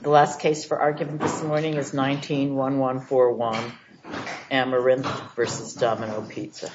The last case for argument this morning is 19-1141, Ameranth v. Domino's Pizza. This is a case of Domino's Pizza v. Domino's Pizza, LLC.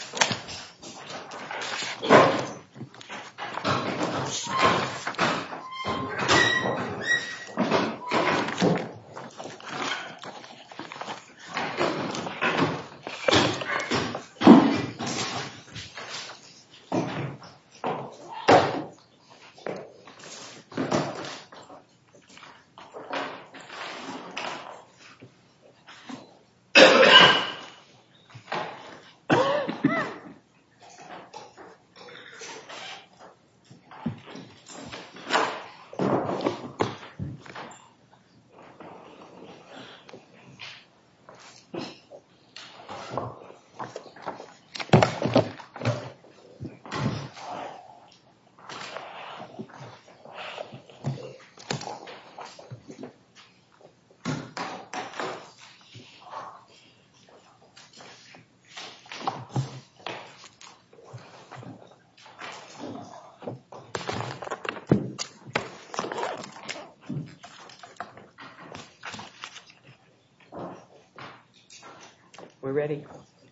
We're ready.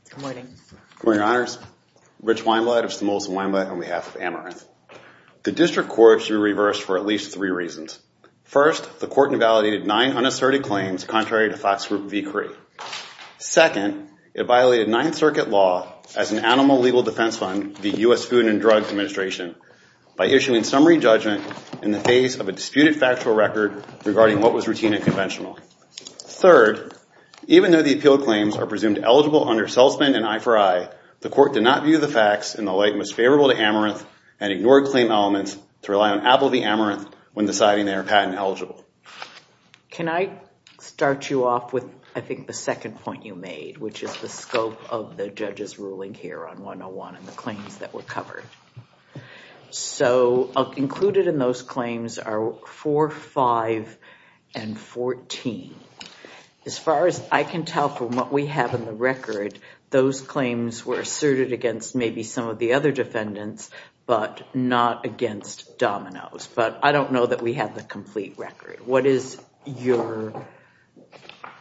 Good morning. Good morning, Your Honors. Rich Weinblatt of Stimulus and Weinblatt on behalf of Ameranth. The District Court should be reversed for at least three reasons. First, the Court invalidated nine unasserted claims contrary to Fox Group v. Cree. Second, it violated Ninth Circuit law as an animal legal defense fund v. U.S. Food and Drug Administration by issuing summary judgment in the face of a disputed factual record regarding what was routine and conventional. Third, even though the appealed claims are presumed eligible under salesman and I4I, the Court did not view the facts in the light most favorable to Ameranth and ignored claim elements to rely on Apple v. Ameranth when deciding they are patent eligible. Can I start you off with, I think, the second point you made, which is the scope of the judge's ruling here on 101 and the claims that were covered? So included in those claims are 4, 5, and 14. As far as I can tell from what we have in the record, those claims were asserted against maybe some of the other defendants but not against Domino's. But I don't know that we have the complete record. What is your opinion?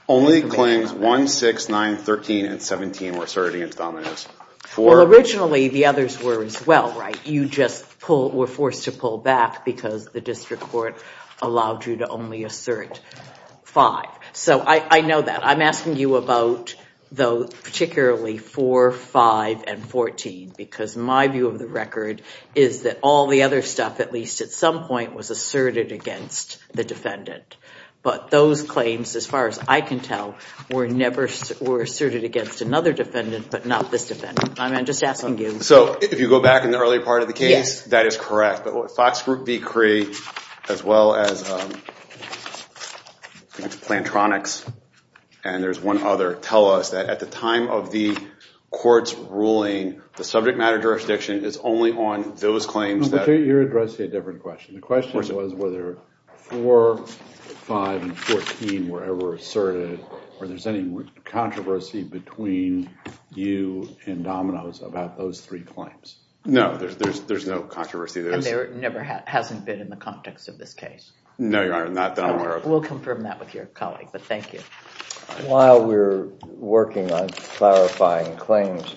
Only claims 1, 6, 9, 13, and 17 were asserted against Domino's. Well, originally the others were as well, right? You just were forced to pull back because the district court allowed you to only assert 5. So I know that. I'm asking you about particularly 4, 5, and 14 because my view of the record is that all the other stuff, at least at some point, was asserted against the defendant. But those claims, as far as I can tell, were asserted against another defendant but not this defendant. I'm just asking you. So if you go back in the earlier part of the case, that is correct. But Fox Group v. Cree, as well as Plantronics, and there's one other, tell us that at the time of the court's ruling, the subject matter jurisdiction is only on those claims. You're addressing a different question. The question was whether 4, 5, and 14 were ever asserted or there's any controversy between you and Domino's about those three claims. No, there's no controversy. And there never has been in the context of this case? No, Your Honor, not that I'm aware of. We'll confirm that with your colleague, but thank you. While we're working on clarifying claims,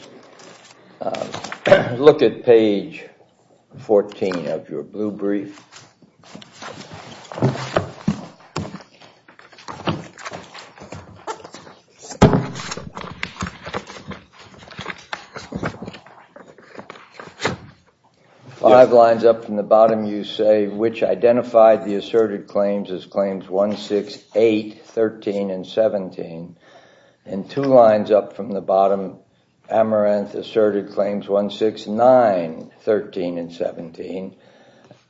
look at page 14 of your blue brief. Five lines up from the bottom, you say, which identified the asserted claims as claims 1, 6, 8, 13, and 17. And two lines up from the bottom, Amaranth asserted claims 1, 6, 9, 13, and 17.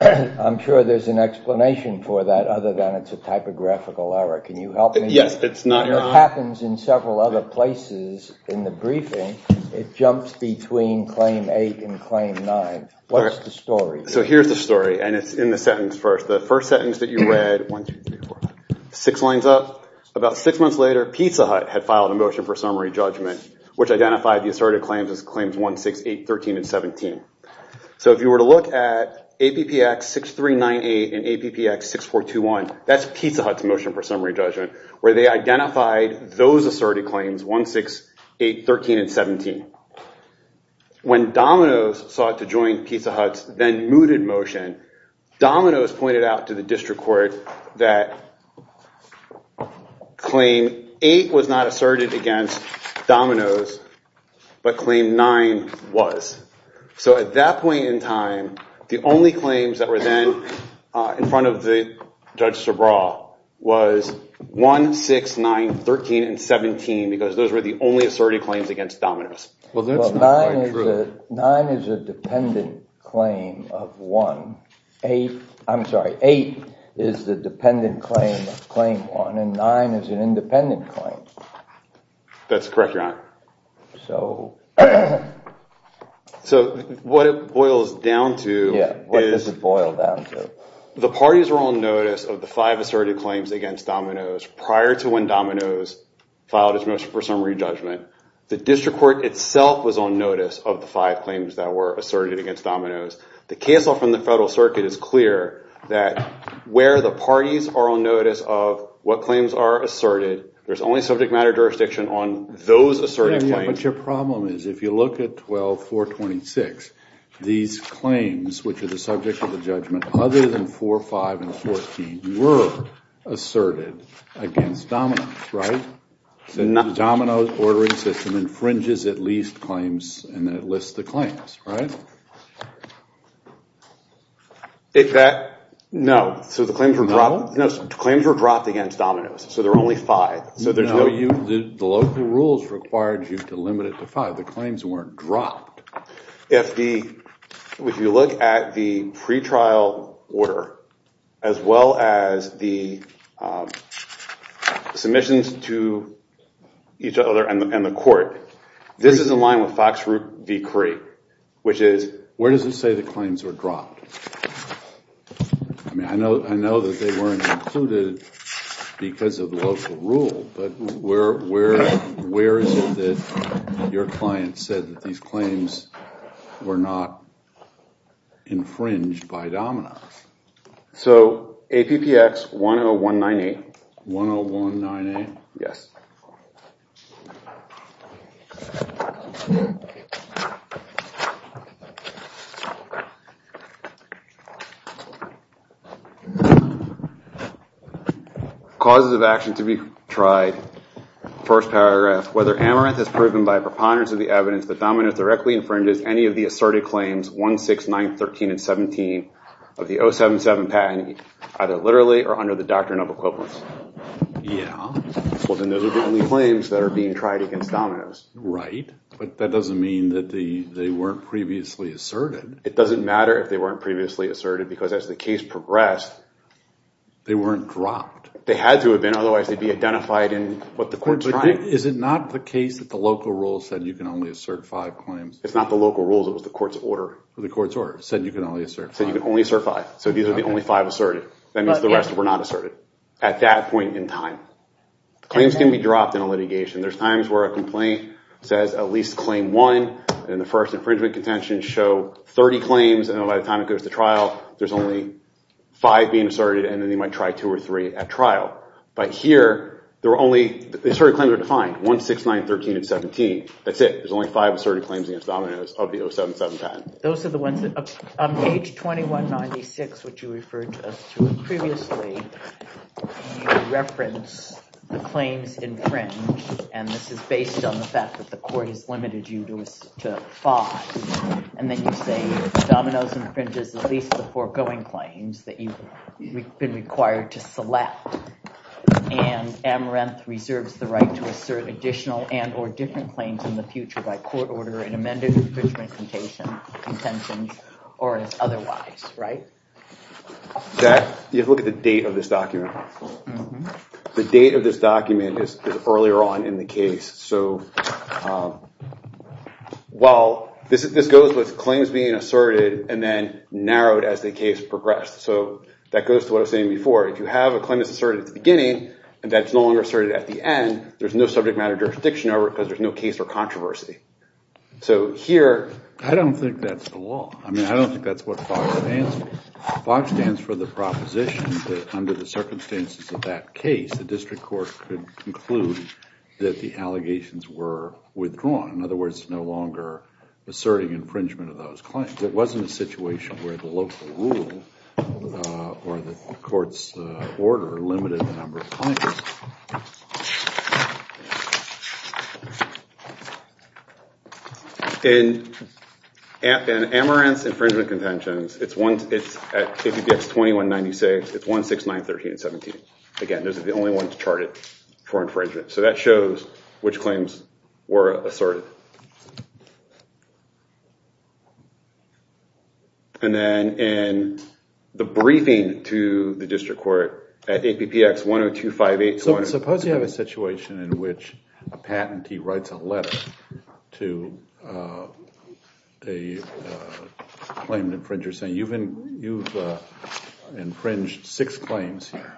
I'm sure there's an explanation for that other than it's a typographical error. Can you help me? Yes, it's not, Your Honor. It happens in several other places in the briefing. It jumps between claim 8 and claim 9. What's the story? So here's the story, and it's in the sentence first. The first sentence that you read, 1, 2, 3, 4, 5, 6 lines up. About six months later, Pizza Hut had filed a motion for summary judgment, which identified the asserted claims as claims 1, 6, 8, 13, and 17. So if you were to look at APPX 6398 and APPX 6421, that's Pizza Hut's motion for summary judgment, where they identified those asserted claims 1, 6, 8, 13, and 17. When Domino's sought to join Pizza Hut's then-mooted motion, Domino's pointed out to the district court that claim 8 was not asserted against Domino's, but claim 9 was. So at that point in time, the only claims that were then in front of Judge Sobral was 1, 6, 9, 13, and 17, because those were the only asserted claims against Domino's. Well, that's not quite true. Well, 9 is a dependent claim of 1. I'm sorry, 8 is the dependent claim of claim 1, and 9 is an independent claim. That's correct, Your Honor. So what it boils down to is the parties were on notice of the five asserted claims against Domino's prior to when Domino's filed its motion for summary judgment. The district court itself was on notice of the five claims that were asserted against Domino's. The case law from the federal circuit is clear that where the parties are on notice of what claims are asserted, there's only subject matter jurisdiction on those asserted claims. But your problem is if you look at 12-426, these claims, which are the subject of the judgment, other than 4, 5, and 14, were asserted against Domino's, right? The Domino's ordering system infringes at least claims and then it lists the claims, right? No. So the claims were dropped against Domino's. So there are only five. No, the local rules required you to limit it to five. The claims weren't dropped. If you look at the pretrial order, as well as the submissions to each other and the court, this is in line with Fox Root v. Cree, which is... Where does it say the claims were dropped? I mean, I know that they weren't included because of the local rule, but where is it that your client said that these claims were not infringed by Domino's? So APPX 10198. 10198? Yes. Causes of action to be tried. First paragraph. Whether Amaranth is proven by a preponderance of the evidence that Domino's directly infringes any of the asserted claims 1, 6, 9, 13, and 17 of the 077 patent, either literally or under the doctrine of equivalence. Yeah. Well, then those are the only claims that are being tried against Domino's. Right. But that doesn't mean that they weren't previously asserted. It doesn't matter if they weren't previously asserted. Because as the case progressed, they weren't dropped. They had to have been. Otherwise, they'd be identified in what the court's trying. But is it not the case that the local rule said you can only assert five claims? It's not the local rules. It was the court's order. The court's order said you can only assert five. Said you can only assert five. So these are the only five asserted. That means the rest were not asserted at that point in time. Claims can be dropped in a litigation. There's times where a complaint says at least claim one, and the first infringement contention show 30 claims, and then by the time it goes to trial, there's only five being asserted, and then they might try two or three at trial. But here, the asserted claims are defined. One, six, nine, 13, and 17. That's it. There's only five asserted claims against Domino's of the 077 patent. Those are the ones that, on page 2196, which you referred to previously, you reference the claims infringed. And this is based on the fact that the court has limited you to five. And then you say Domino's infringes at least the foregoing claims that you've been required to select, and Amaranth reserves the right to assert additional and or different claims in the future by court order in amended infringement contentions or as otherwise, right? You have to look at the date of this document. The date of this document is earlier on in the case. So while this goes with claims being asserted and then narrowed as the case progressed. So that goes to what I was saying before. If you have a claim that's asserted at the beginning and that's no longer asserted at the end, there's no subject matter jurisdiction over it because there's no case for controversy. So here, I don't think that's the law. I mean, I don't think that's what FOX stands for. FOX stands for the proposition that under the circumstances of that case, the district court could conclude that the allegations were withdrawn. In other words, no longer asserting infringement of those claims. It wasn't a situation where the local rule or the court's order limited the number of claims. In Amaranth's infringement contentions, it's at KBPX 2196, it's 16913 and 17. Again, those are the only ones charted for infringement. So that shows which claims were asserted. And then in the briefing to the district court at APPX 10258. So suppose you have a situation in which a patentee writes a letter to a claim infringer saying, you've infringed six claims here.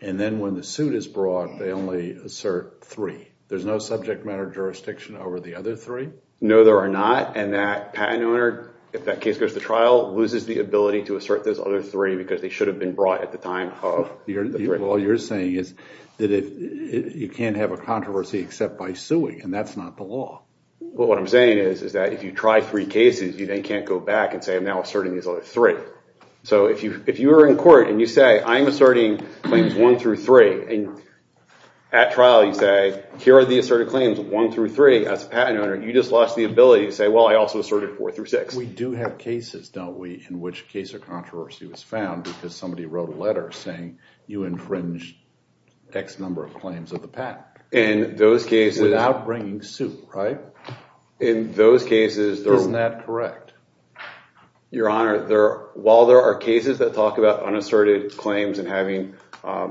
And then when the suit is brought, they only assert three. There's no subject matter jurisdiction over the other three? No, there are not. And that patent owner, if that case goes to trial, loses the ability to assert those other three because they should have been brought at the time of the three. All you're saying is that you can't have a controversy except by suing and that's not the law. Well, what I'm saying is that if you try three cases, you then can't go back and say I'm now asserting these other three. So if you are in court and you say I'm asserting claims one through three and at trial you say here are the asserted claims one through three, as a patent owner, you just lost the ability to say, well, I also asserted four through six. We do have cases, don't we, in which case a controversy was found because somebody wrote a letter saying you infringed X number of claims of the patent. In those cases. Without bringing suit, right? In those cases. Isn't that correct? Your Honor, while there are cases that talk about unasserted claims and having, I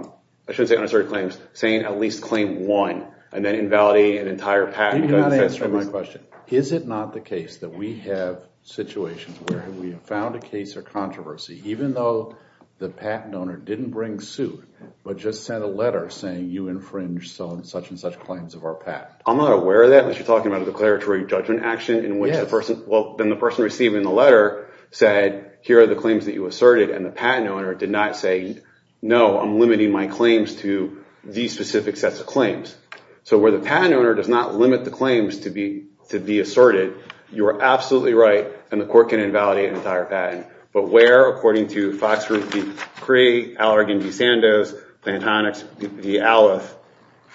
shouldn't say unasserted claims, saying at least claim one and then invalidating an entire patent. You did not answer my question. Is it not the case that we have situations where we have found a case of controversy even though the patent owner didn't bring suit but just sent a letter saying you infringed such and such claims of our patent? I'm not aware of that unless you're talking about a declaratory judgment action in which the person, well, then the person receiving the letter said here are the claims that you asserted and the patent owner did not say no, I'm limiting my claims to these specific sets of claims. So where the patent owner does not limit the claims to be asserted, you are absolutely right and the court can invalidate an entire patent. But where, according to Fox Group v. Cree, Allergan v. Sandoz, Plantonics v. Alleth,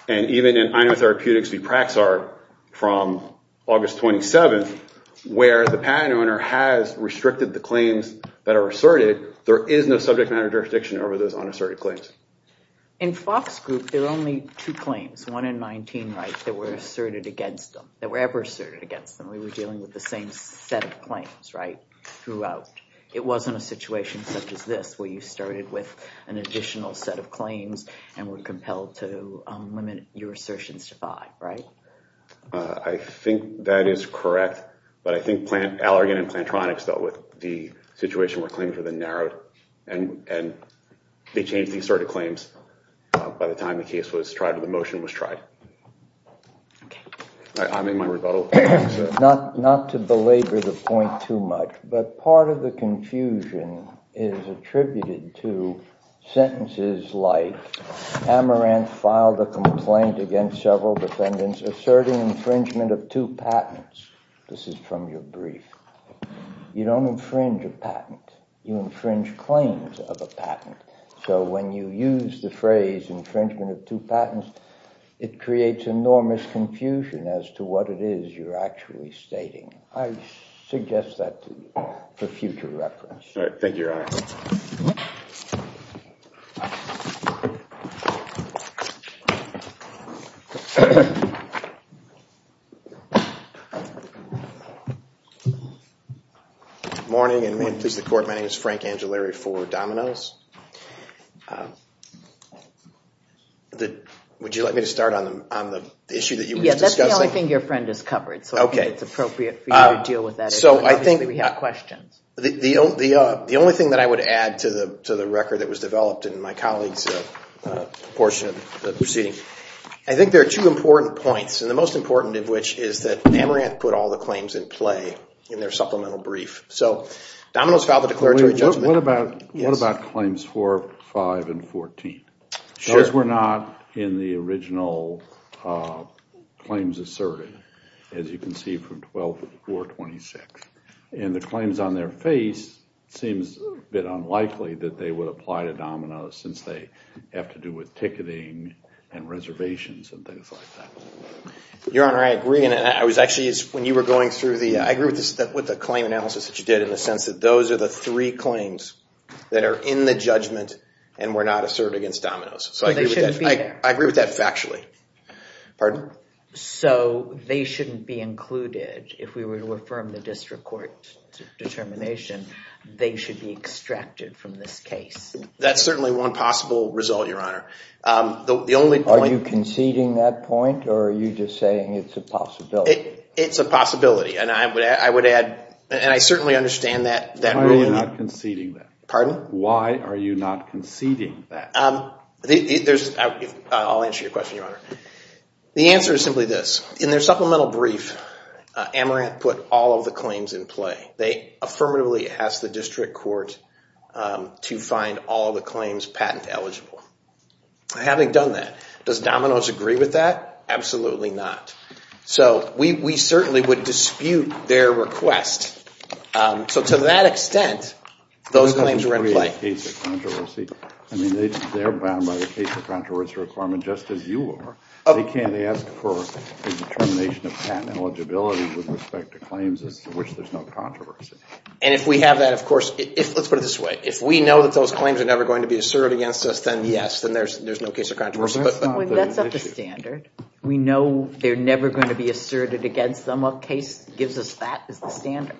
and even in Inotherapeutics v. Praxart from August 27th, where the patent owner has restricted the claims that are asserted, there is no subject matter jurisdiction over those unasserted claims. In Fox Group, there are only two claims, one in 19 rights, that were asserted against them, that were ever asserted against them. We were dealing with the same set of claims, right, throughout. It wasn't a situation such as this where you started with an additional set of claims and were compelled to limit your assertions to five, right? I think that is correct. But I think Allergan and Plantronics dealt with the situation where claims were narrowed and they changed these sort of claims by the time the case was tried or the motion was tried. Okay. I'm in my rebuttal. Not to belabor the point too much, but part of the confusion is attributed to sentences like, Amaranth filed a complaint against several defendants asserting infringement of two patents. This is from your brief. You don't infringe a patent. You infringe claims of a patent. So when you use the phrase infringement of two patents, it creates enormous confusion as to what it is you're actually stating. I suggest that for future reference. All right. Thank you, Your Honor. Good morning and may it please the Court. My name is Frank Angelari for Domino's. Would you like me to start on the issue that you were discussing? Yes, that's the only thing your friend has covered, so I think it's appropriate for you to deal with that issue. Obviously, we have questions. The only thing that I would add to the record that was developed in my colleague's portion of the proceeding, I think there are two important points, and the most important of which is that Amaranth put all the claims in play in their supplemental brief. So Domino's filed a declaratory judgment. What about claims 4, 5, and 14? Sure. Those were not in the original claims asserted, as you can see from 12-426. And the claims on their face seems a bit unlikely that they would apply to Domino's since they have to do with ticketing and reservations and things like that. Your Honor, I agree. When you were going through, I agree with the claim analysis that you did in the sense that those are the three claims that are in the judgment and were not asserted against Domino's. They shouldn't be there. I agree with that factually. Pardon? So they shouldn't be included. If we were to affirm the district court's determination, they should be extracted from this case. That's certainly one possible result, Your Honor. Are you conceding that point, or are you just saying it's a possibility? It's a possibility. And I would add, and I certainly understand that ruling. Why are you not conceding that? Pardon? Why are you not conceding that? I'll answer your question, Your Honor. The answer is simply this. In their supplemental brief, Amaranth put all of the claims in play. They affirmatively asked the district court to find all the claims patent eligible. Having done that, does Domino's agree with that? Absolutely not. So we certainly would dispute their request. So to that extent, those claims were in play. I don't agree with the case of controversy. I mean, they're bound by the case of controversy requirement just as you are. They can't ask for a determination of patent eligibility with respect to claims to which there's no controversy. And if we have that, of course, let's put it this way. If we know that those claims are never going to be asserted against us, then yes, then there's no case of controversy. That's not the standard. We know they're never going to be asserted against them. A case that gives us that is the standard.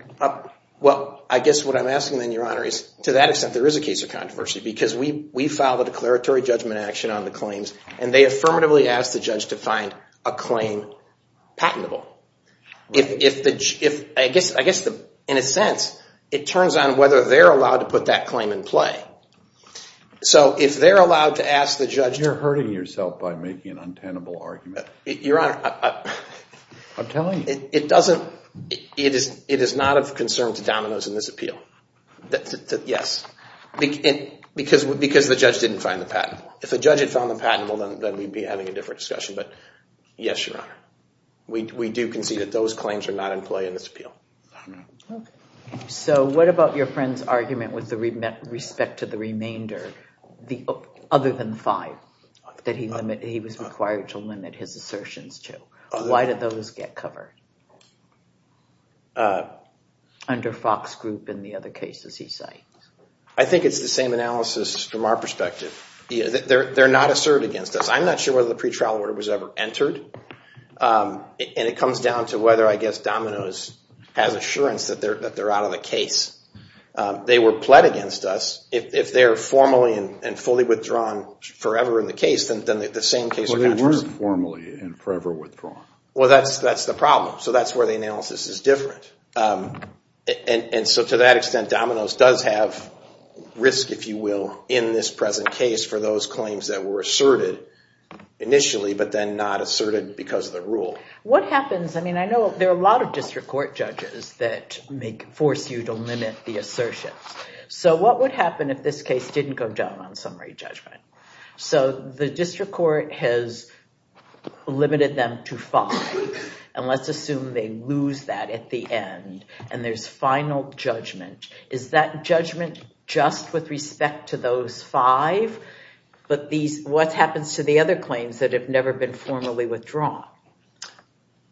Well, I guess what I'm asking then, Your Honor, is to that extent, there is a case of controversy because we filed a declaratory judgment action on the claims, and they affirmatively asked the judge to find a claim patentable. I guess, in a sense, it turns on whether they're allowed to put that claim in play. So if they're allowed to ask the judge to— You're hurting yourself by making an untenable argument. Your Honor— I'm telling you. It doesn't—it is not of concern to Domino's in this appeal. Yes. Because the judge didn't find the patentable. If the judge had found the patentable, then we'd be having a different discussion. But yes, Your Honor. We do concede that those claims are not in play in this appeal. Okay. So what about your friend's argument with respect to the remainder, other than five, that he was required to limit his assertions to? Why did those get covered under Fox Group and the other cases he cites? I think it's the same analysis from our perspective. They're not asserted against us. I'm not sure whether the pretrial order was ever entered. And it comes down to whether, I guess, Domino's has assurance that they're out of the case. They were pled against us. If they're formally and fully withdrawn forever in the case, then the same case— Well, they weren't formally and forever withdrawn. Well, that's the problem. So that's where the analysis is different. And so to that extent, Domino's does have risk, if you will, in this present case for those claims that were asserted initially but then not asserted because of the rule. What happens—I mean, I know there are a lot of district court judges that force you to limit the assertions. So what would happen if this case didn't go down on summary judgment? So the district court has limited them to five. And let's assume they lose that at the end. And there's final judgment. Is that judgment just with respect to those five? But what happens to the other claims that have never been formally withdrawn?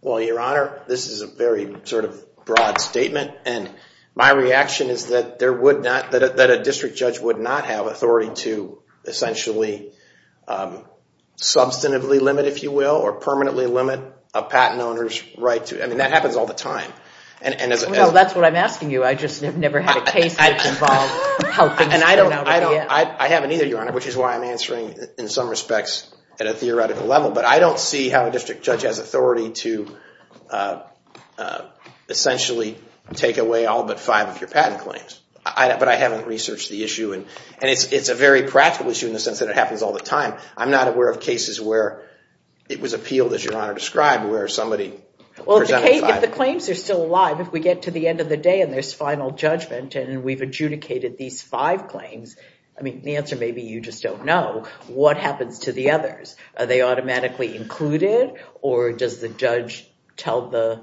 Well, Your Honor, this is a very sort of broad statement. And my reaction is that a district judge would not have authority to essentially substantively limit, if you will, or permanently limit a patent owner's right to— I mean, that happens all the time. Well, that's what I'm asking you. I just have never had a case that's involved how things turn out. I haven't either, Your Honor, which is why I'm answering in some respects at a theoretical level. But I don't see how a district judge has authority to essentially take away all but five of your patent claims. But I haven't researched the issue. And it's a very practical issue in the sense that it happens all the time. I'm not aware of cases where it was appealed, as Your Honor described, where somebody presented five. Well, if the claims are still alive, if we get to the end of the day and there's final judgment and we've adjudicated these five claims, I mean, the answer may be you just don't know. What happens to the others? Are they automatically included? Or does the judge tell the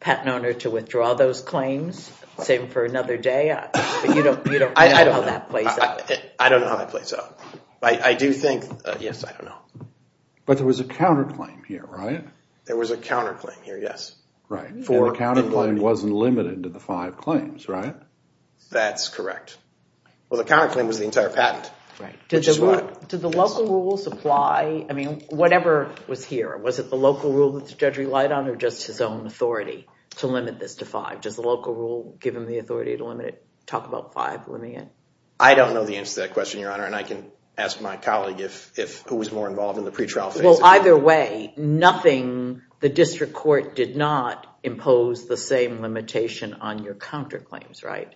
patent owner to withdraw those claims, save them for another day? I don't know how that plays out. I don't know how that plays out. I do think—yes, I don't know. But there was a counterclaim here, right? There was a counterclaim here, yes. Right. And the counterclaim wasn't limited to the five claims, right? That's correct. Well, the counterclaim was the entire patent. Did the local rules apply? I mean, whatever was here, was it the local rule that the judge relied on or just his own authority to limit this to five? Does the local rule give him the authority to limit it, talk about five limiting it? I don't know the answer to that question, Your Honor, and I can ask my colleague who was more involved in the pretrial phase. Well, either way, nothing—the district court did not impose the same limitation on your counterclaims, right?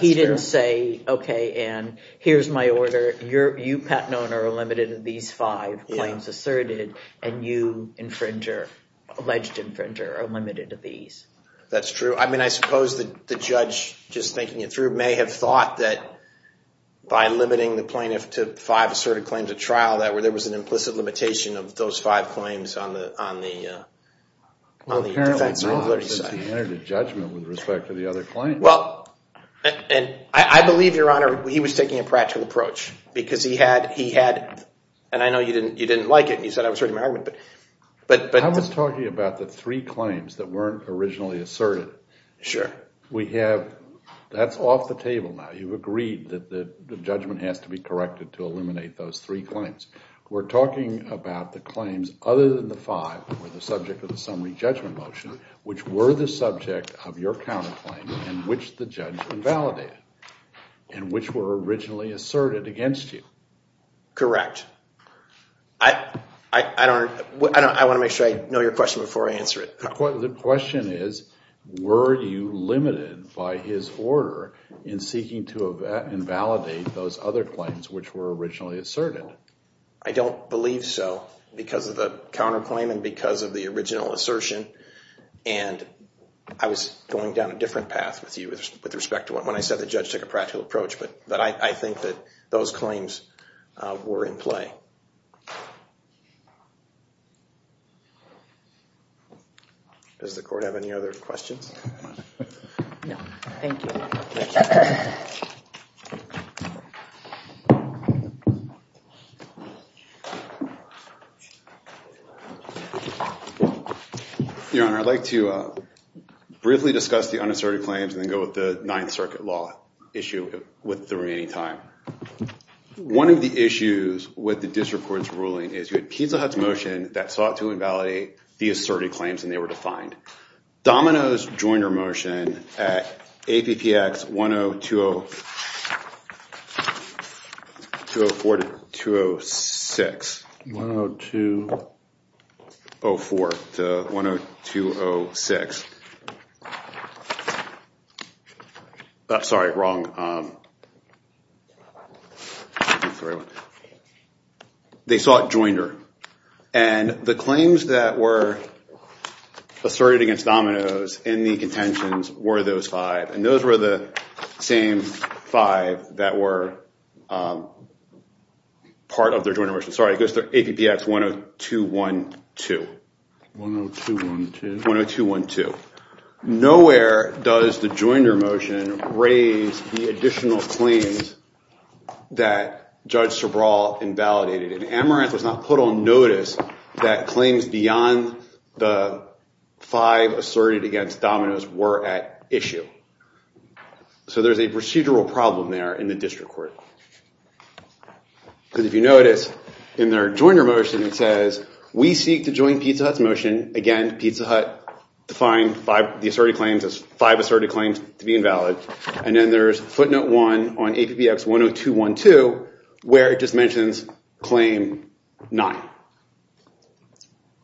He didn't say, okay, Anne, here's my order. You, patent owner, are limited to these five claims asserted, and you, infringer, alleged infringer, are limited to these. That's true. I mean, I suppose the judge, just thinking it through, may have thought that by limiting the plaintiff to five asserted claims at trial that there was an implicit limitation of those five claims on the defense or invalidity side. Well, apparently not, since he entered a judgment with respect to the other claims. Well, and I believe, Your Honor, he was taking a practical approach because he had—and I know you didn't like it and you said I was hurting my argument, but— I was talking about the three claims that weren't originally asserted. Sure. We have—that's off the table now. You've agreed that the judgment has to be corrected to eliminate those three claims. We're talking about the claims other than the five that were the subject of the summary judgment motion, which were the subject of your counterclaim and which the judge invalidated and which were originally asserted against you. Correct. I don't—I want to make sure I know your question before I answer it. The question is, were you limited by his order in seeking to invalidate those other claims which were originally asserted? I don't believe so because of the counterclaim and because of the original assertion. And I was going down a different path with you with respect to when I said the judge took a practical approach, but I think that those claims were in play. Does the court have any other questions? No. Thank you. Your Honor, I'd like to briefly discuss the unasserted claims and then go with the Ninth Circuit law issue with the remaining time. One of the issues with the district court's ruling is you had Pizza Hut's motion that sought to invalidate the asserted claims and they were defined. Domino's Joinder motion at APPX 1020—204 to 206. 10204 to 10206. Sorry, wrong. Sorry. They sought Joinder. And the claims that were asserted against Domino's in the contentions were those five. And those were the same five that were part of their Joinder motion. Sorry, it goes to APPX 10212. 10212. Nowhere does the Joinder motion raise the additional claims that Judge Sobral invalidated. And Amaranth was not put on notice that claims beyond the five asserted against Domino's were at issue. So there's a procedural problem there in the district court. Because if you notice in their Joinder motion it says, we seek to join Pizza Hut's motion. Again, Pizza Hut defined the asserted claims as five asserted claims to be invalid. And then there's footnote one on APPX 10212 where it just mentions claim nine.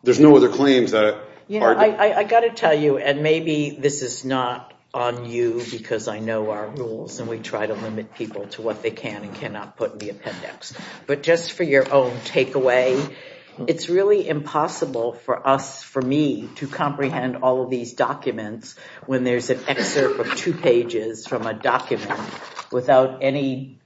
There's no other claims that are— I've got to tell you, and maybe this is not on you because I know our rules and we try to limit people to what they can and cannot put in the appendix. But just for your own takeaway, it's really impossible for us, for me, to comprehend all of these documents when there's an excerpt of two pages from a document without any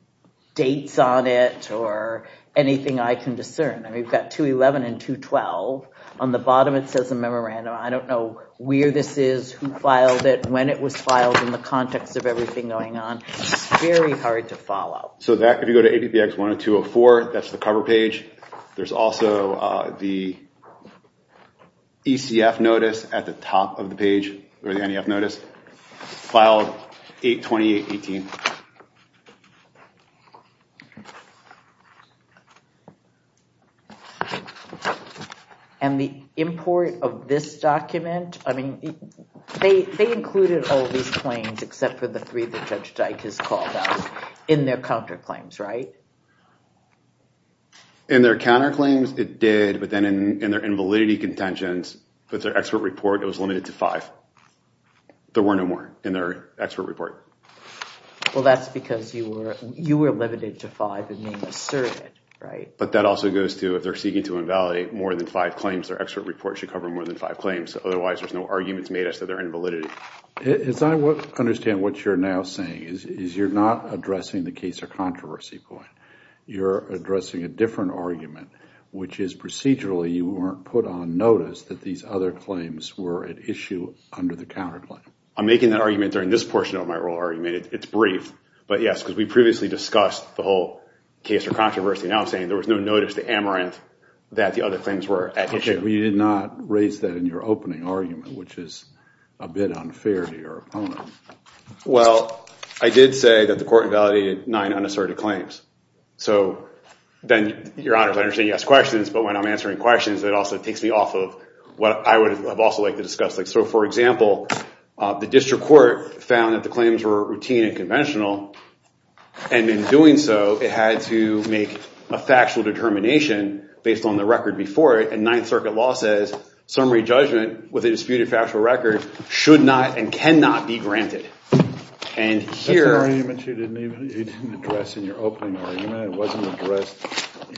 dates on it or anything I can discern. We've got 211 and 212. On the bottom it says a memorandum. I don't know where this is, who filed it, when it was filed, in the context of everything going on. It's very hard to follow. So that, if you go to APPX 10204, that's the cover page. There's also the ECF notice at the top of the page, or the NEF notice, filed 8-28-18. And the import of this document, I mean, they included all these claims except for the three that Judge Dyke has called out in their counterclaims, right? In their counterclaims, it did. But then in their invalidity contentions, with their expert report, it was limited to five. There were no more in their expert report. Well, that's because you were limited to five and being asserted, right? But that also goes to, if they're seeking to invalidate more than five claims, their expert report should cover more than five claims. Otherwise, there's no arguments made as to their invalidity. As I understand what you're now saying, is you're not addressing the case or controversy point. You're addressing a different argument, which is procedurally, you weren't put on notice that these other claims were at issue under the counterclaim. I'm making that argument during this portion of my oral argument. It's brief, but yes, because we previously discussed the whole case or controversy. Now I'm saying there was no notice to Amaranth that the other claims were at issue. You did not raise that in your opening argument, which is a bit unfair to your opponent. Well, I did say that the court invalidated nine unasserted claims. So then, Your Honor, I understand you asked questions, but when I'm answering questions, it also takes me off of what I would have also liked to discuss. So, for example, the district court found that the claims were routine and conventional, and in doing so, it had to make a factual determination based on the record before it, and Ninth Circuit law says summary judgment with a disputed factual record should not and cannot be granted. That's an argument you didn't address in your opening argument. It wasn't addressed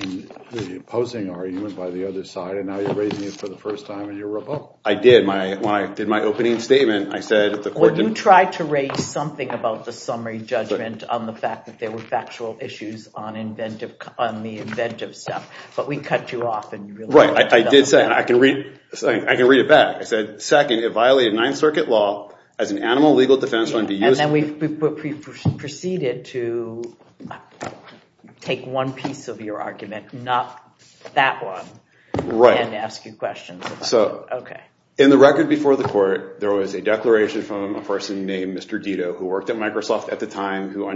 in the opposing argument by the other side, and now you're raising it for the first time, and you're rebuttal. I did. When I did my opening statement, I said the court— Well, you tried to raise something about the summary judgment on the fact that there were factual issues on the inventive stuff, but we cut you off. Right. I did say, and I can read it back. I said, second, it violated Ninth Circuit law as an animal legal defense— And then we proceeded to take one piece of your argument, not that one, and ask you questions. So, in the record before the court, there was a declaration from a person named Mr. Dito who worked at Microsoft at the time, who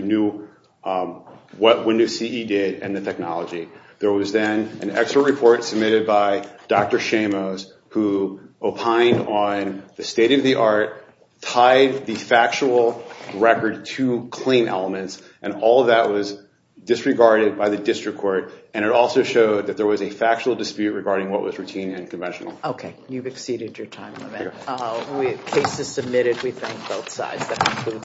knew what Windows CE did and the technology. There was then an expert report submitted by Dr. Shamos who opined on the state-of-the-art, tied the factual record to claim elements, and all of that was disregarded by the district court, and it also showed that there was a factual dispute regarding what was routine and conventional. Okay. You've exceeded your time limit. Case is submitted. We thank both sides.